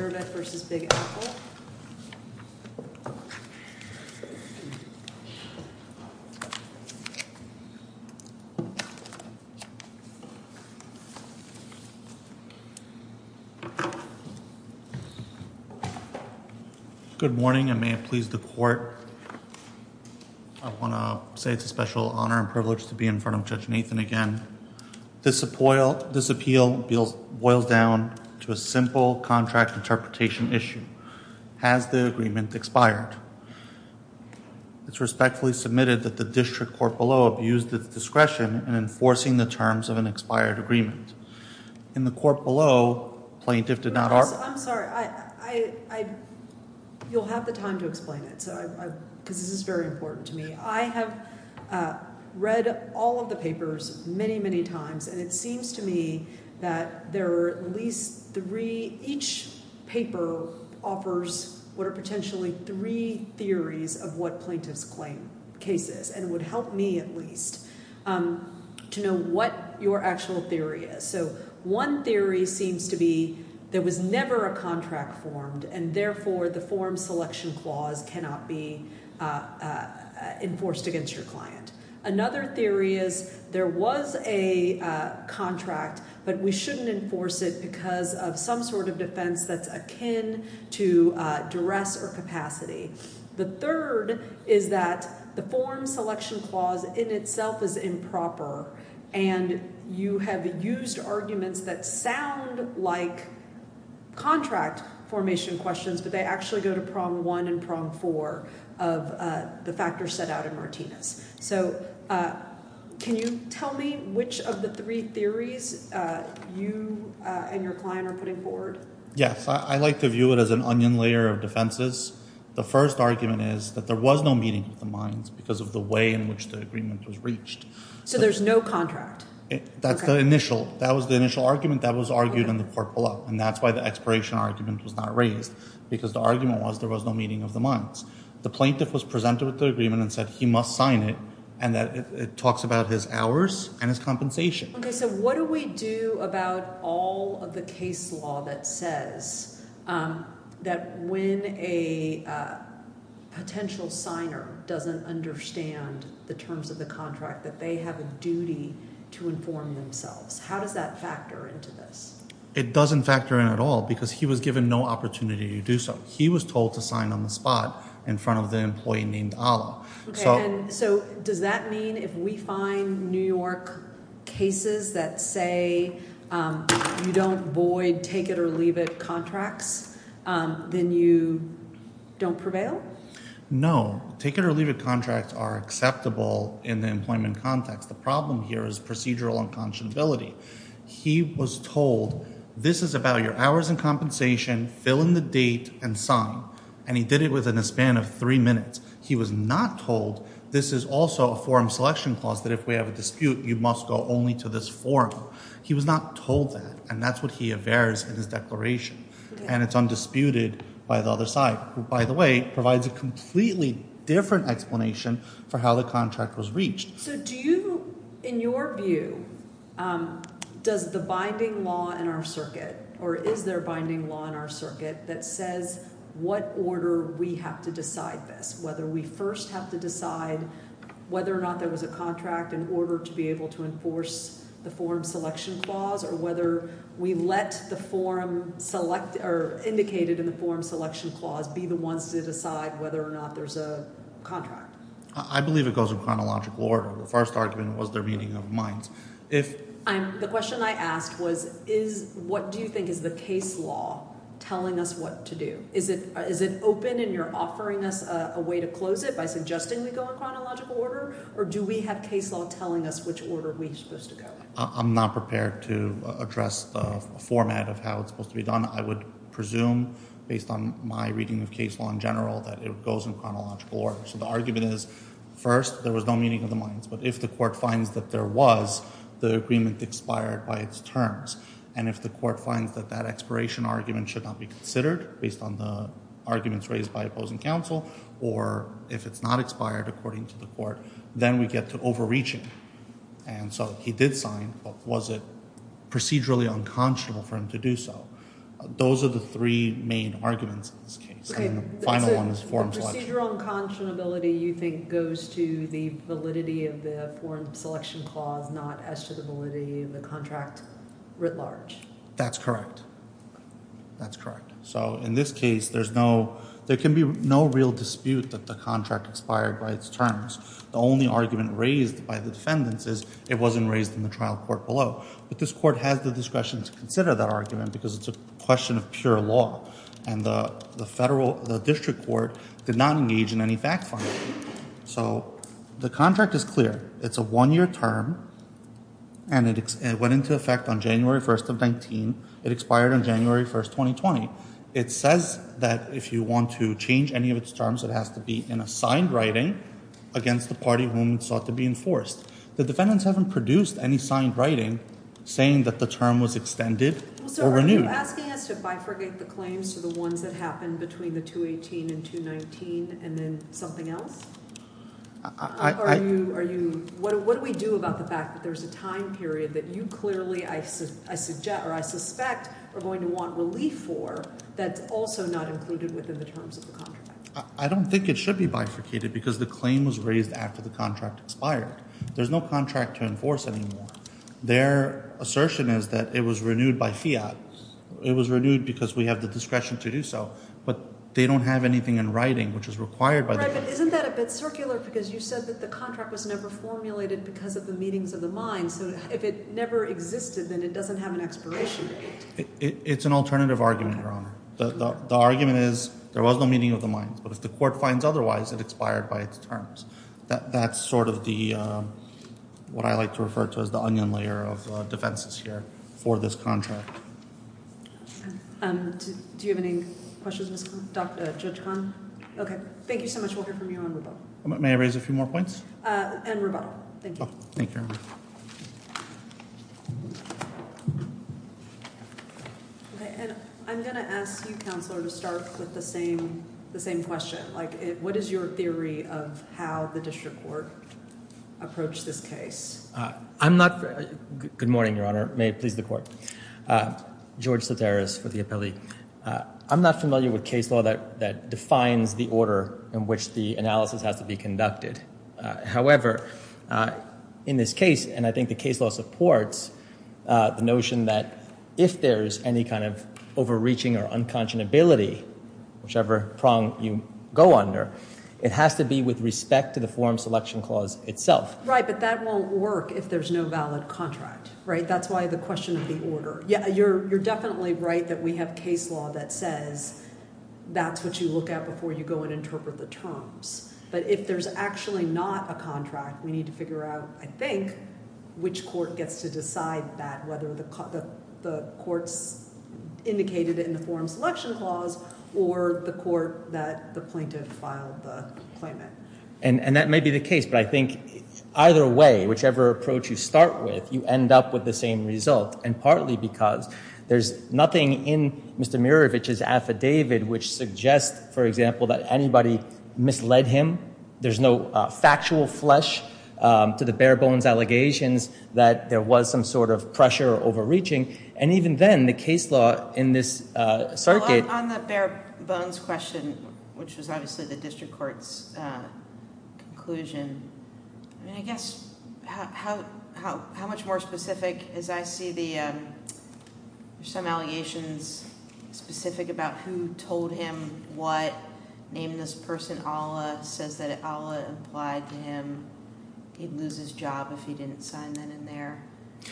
Good morning and may it please the court. I want to say it's a special honor and privilege to be in front of Judge Nathan again. This appeal boils down to a simple contract interpretation issue. Has the agreement expired? It's respectfully submitted that the district court below abused its discretion in enforcing the terms of an expired agreement. In the court below, plaintiff did not argue... I'm sorry, I, I, I, you'll have the time to explain it, because this is very important to me. I have read all of the papers many, many times and it seems to me that there are at least three, each paper offers what are potentially three theories of what plaintiff's claim case is and would help me at least to know what your actual theory is. So one theory seems to be there was never a contract formed and therefore the form selection clause cannot be enforced against your client. Another theory is there was a contract, but we shouldn't enforce it because of some sort of defense that's akin to duress or capacity. The third is that the form selection clause in itself is improper and you have used arguments that sound like contract formation questions, but they actually go to prong one and prong four of the factors set out in Martinez. So can you tell me which of the three theories you and your client are putting forward? Yes, I like to view it as an onion layer of defenses. The first argument is that there was no meeting of the minds because of the way in which the agreement was reached. So there's no contract? That's the initial, that was the initial argument that was argued in the court below and that's why the expiration argument was not raised because the argument was there was no meeting of the minds. The plaintiff was presented with the agreement and said he must sign it and that it talks about his hours and his compensation. Okay, so what do we do about all of the case law that says that when a potential signer doesn't understand the terms of the contract that they have a duty to inform themselves? How does that factor into this? It doesn't factor in at all because he was given no opportunity to do so. He was told to sign on the spot in front of the employee named Allah. Okay, so does that mean if we find New York cases that say you don't void take it or leave it contracts, then you don't prevail? No, take it or leave it contracts are acceptable in the employment context. The problem here is procedural unconscionability. He was told this is about your hours and compensation, fill in the date and sign and he did it within a span of three minutes. He was not told this is also a forum selection clause that if we have a dispute you must go only to this forum. He was not told that and that's what he averts in his declaration and it's undisputed by the other side, who by the way provides a completely different explanation for how the contract was reached. So do you, in your view, does the binding law in our circuit or is there a binding law in our circuit that says what order we have to decide this? Whether we first have to decide whether or not there was a contract in order to be able to enforce the forum selection clause or whether we let the forum select or indicated in the forum selection clause be the ones to decide whether or not there's a contract? I believe it goes in chronological order. The first argument was the reading of minds. The question I asked was what do you think is the case law telling us what to do? Is it open and you're offering us a way to close it by suggesting we go in chronological order or do we have case law telling us which order we're supposed to go in? I'm not prepared to address the format of how it's supposed to be done. I would presume based on my reading of case law in general that it goes in chronological order. So the argument is first there was no meeting of the minds. But if the court finds that there was, the agreement expired by its terms. And if the court finds that that expiration argument should not be considered based on the arguments raised by opposing counsel or if it's not expired according to the court, then we get to overreaching. And so he did sign, but was it procedurally unconscionable for him to do so? Those are the three main arguments in this case. And the final one is form selection. Okay. So the procedural unconscionability you think goes to the validity of the form selection clause, not as to the validity of the contract writ large? That's correct. That's correct. So in this case, there's no, there can be no real dispute that the contract expired by its terms. The only argument raised by the defendants is it wasn't raised in the trial court below. But this court has the discretion to consider that argument because it's a question of pure law. And the federal, the district court did not engage in any fact-finding. So the contract is clear. It's a one-year term. And it went into effect on January 1st of 19. It expired on January 1st, 2020. It says that if you want to change any of its terms, it has to be in a signed writing against the party whom it sought to be enforced. The defendants haven't produced any signed writing saying that the term was extended or renewed. Well, so are you asking us to bifurcate the claims to the ones that happened between the 218 and 219 and then something else? Are you, what do we do about the fact that there's a time period that you clearly, I suggest, or I suspect are going to want relief for that's also not included within the terms of the contract? I don't think it should be bifurcated because the claim was raised after the contract expired. There's no contract to enforce anymore. Their assertion is that it was renewed by fiat. It was renewed because we have the discretion to do so. But they don't have anything in writing which is required by the courts. Right, but isn't that a bit circular because you said that the contract was never formulated because of the meetings of the mines. So if it never existed, then it doesn't have an expiration date. It's an alternative argument, Your Honor. The argument is there was no meeting of the terms. That's sort of what I like to refer to as the onion layer of defenses here for this contract. Do you have any questions, Judge Kahn? Thank you so much. We'll hear from you on rebuttal. May I raise a few more points? And rebuttal. Thank you. Thank you, Your Honor. I'm going to ask you, Counselor, to start with the same question. What is your theory of how the district court approached this case? I'm not—good morning, Your Honor. May it please the Court. George Soteras for the appellee. I'm not familiar with case law that defines the order in which the analysis has to be conducted. However, in this case, and I think the case law supports the notion that if there is any kind of overreaching or unconscionability, whichever prong you go under, it has to be with respect to the forum selection clause itself. Right, but that won't work if there's no valid contract, right? That's why the question of the order. You're definitely right that we have case law that says that's what you look at before you go and interpret the terms. But if there's actually not a contract, we need to figure out, I think, which court gets to decide that, whether the court's indicated in the forum selection clause or the court that the plaintiff filed the claimant. And that may be the case, but I think either way, whichever approach you start with, you end up with the same result, and partly because there's nothing in Mr. Mirovich's affidavit which suggests, for example, that anybody misled him. There's no factual flesh to the bare bones allegations that there was some sort of pressure or overreaching. And even then, the case law in this circuit— Well, on the bare bones question, which was obviously the district court's conclusion, I mean, I guess how much more specific is—I see there's some allegations specific about who told him what, named this person Ala, says that Ala implied to him he'd lose his job if he didn't sign that in there.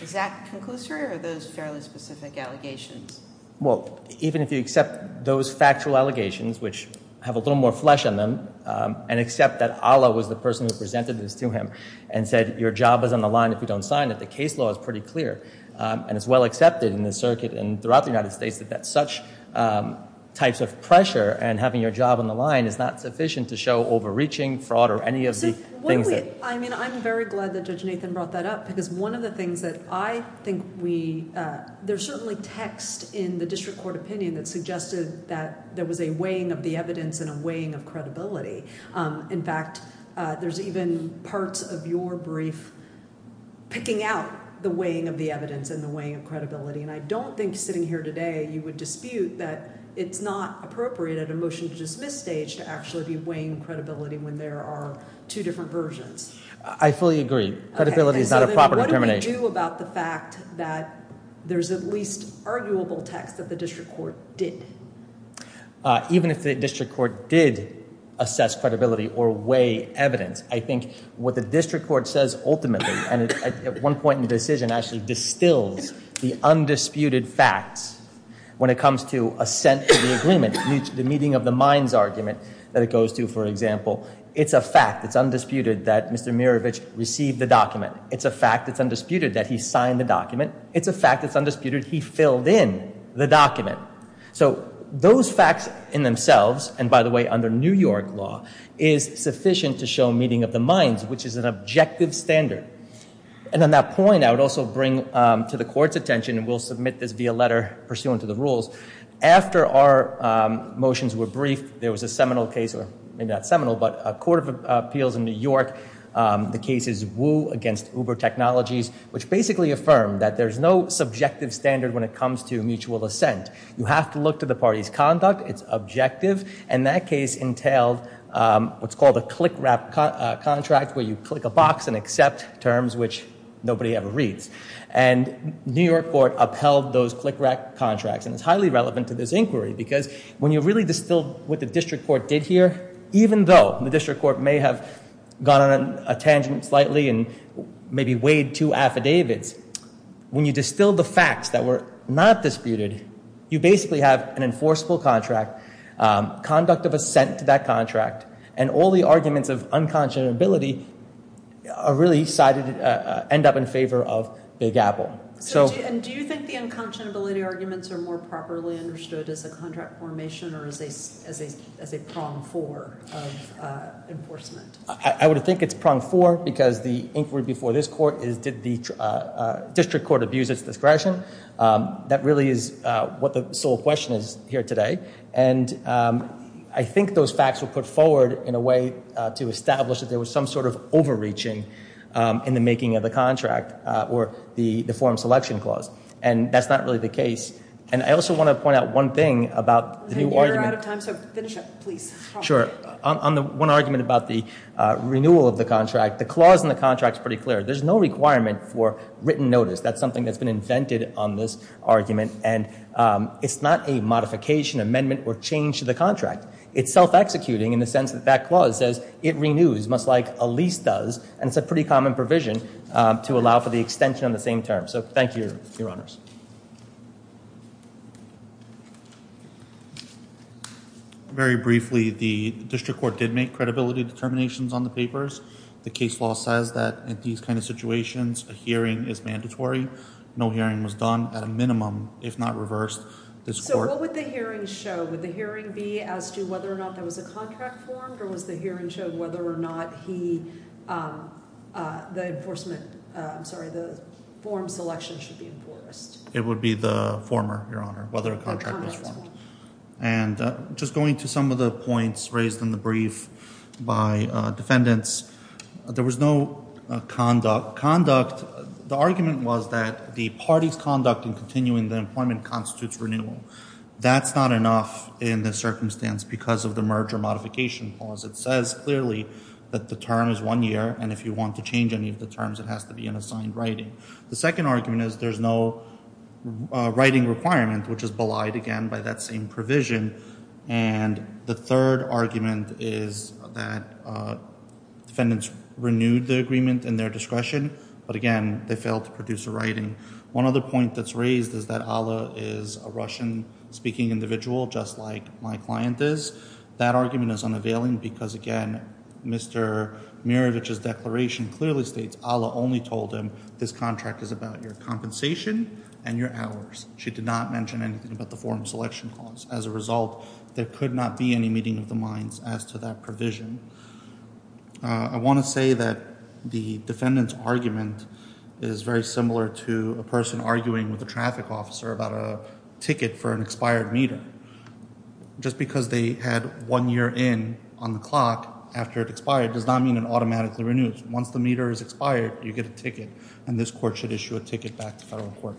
Is that conclusory, or are those fairly specific allegations? Well, even if you accept those factual allegations, which have a little more flesh in them, and accept that Ala was the person who presented this to him and said, your job is on the line if you don't sign it, the case law is pretty clear. And it's well accepted in this circuit and throughout the United States that such types of pressure and having your job on the line is not sufficient to show overreaching, fraud, or any of the things that— I mean, I'm very glad that Judge Nathan brought that up, because one of the things that I think we—there's certainly text in the district court opinion that suggested that there was a weighing of the evidence and a weighing of credibility. In fact, there's even parts of your brief picking out the weighing of the evidence and the weighing of credibility. And I don't think sitting here today you would dispute that it's not appropriate at a motion-to-dismiss stage to actually be weighing credibility when there are two different versions. I fully agree. Credibility is not a proper determination. Okay, so then what do we do about the fact that there's at least arguable text that the district court did? Even if the district court did assess credibility or weigh evidence, I think what the district court says ultimately, and at one point in the decision actually distills the undisputed facts when it comes to assent to the agreement, the meeting of the minds argument that it was Mr. Mirovich who received the document. It's a fact that's undisputed that he signed the document. It's a fact that's undisputed he filled in the document. So those facts in themselves—and by the way, under New York law—is sufficient to show meeting of the minds, which is an objective standard. And on that point, I would also bring to the Court's attention—and we'll submit this via letter pursuant to the rules—after our motions were briefed, there was a seminal appeals in New York. The case is Wu against Uber Technologies, which basically affirmed that there's no subjective standard when it comes to mutual assent. You have to look to the party's conduct. It's objective. And that case entailed what's called a click-wrap contract, where you click a box and accept terms which nobody ever reads. And New York Court upheld those click-wrap contracts. And it's highly relevant to this inquiry because when you really distill what the district court did here, even though the district court may have gone on a tangent slightly and maybe weighed two affidavits, when you distill the facts that were not disputed, you basically have an enforceable contract, conduct of assent to that contract, and all the arguments of unconscionability end up in favor of Big Apple. So do you think the unconscionability arguments are more properly understood as a contract formation or as a prong four of enforcement? I would think it's prong four because the inquiry before this court is did the district court abuse its discretion? That really is what the sole question is here today. And I think those facts were put forward in a way to establish that there was some sort of overreaching in the making of the contract or the form selection clause. And that's not really the case. And I also want to point out one thing about the new argument. You're out of time, so finish up, please. Sure. On the one argument about the renewal of the contract, the clause in the contract is pretty clear. There's no requirement for written notice. That's something that's been invented on this argument. And it's not a modification, amendment, or change to the contract. It's self-executing in the sense that that clause says it renews, much like a lease does. And it's a pretty common provision to allow for the extension on the same term. So thank you, Your Honors. Very briefly, the district court did make credibility determinations on the papers. The case law says that in these kind of situations, a hearing is mandatory. No hearing was done at a minimum, if not reversed, this court. So what would the hearing show? Would the hearing be as to whether or not there was a contract formed? Or was the hearing show whether or not he, the enforcement, I'm sorry, the form selection should be enforced? It would be the former, Your Honor, whether a contract was formed. And just going to some of the points raised in the brief by defendants, there was no conduct. The argument was that the party's conduct in continuing the employment constitutes renewal. That's not enough in this circumstance because of the merger modification clause. It says clearly that the term is one year. And if you want to change any of the terms, it has to be an assigned writing. The second argument is there's no writing requirement, which is belied, again, by that same provision. And the third argument is that defendants renewed the agreement in their discretion, but again, they failed to produce a writing. One other point that's raised is that Alla is a Russian-speaking individual, just like my client is. That argument is unavailing because, again, Mr. Mirovich's declaration clearly states Alla only told him this contract is about your compensation and your hours. She did not mention anything about the form selection clause. As a result, there could not be any meeting of the minds as to that provision. I want to say that the defendant's argument is very similar to a person arguing with a traffic officer about a ticket for an expired meter. Just because they had one year in on the clock after it expired does not mean it automatically renews. Once the meter is expired, you get a ticket, and this court should issue a ticket back to federal court.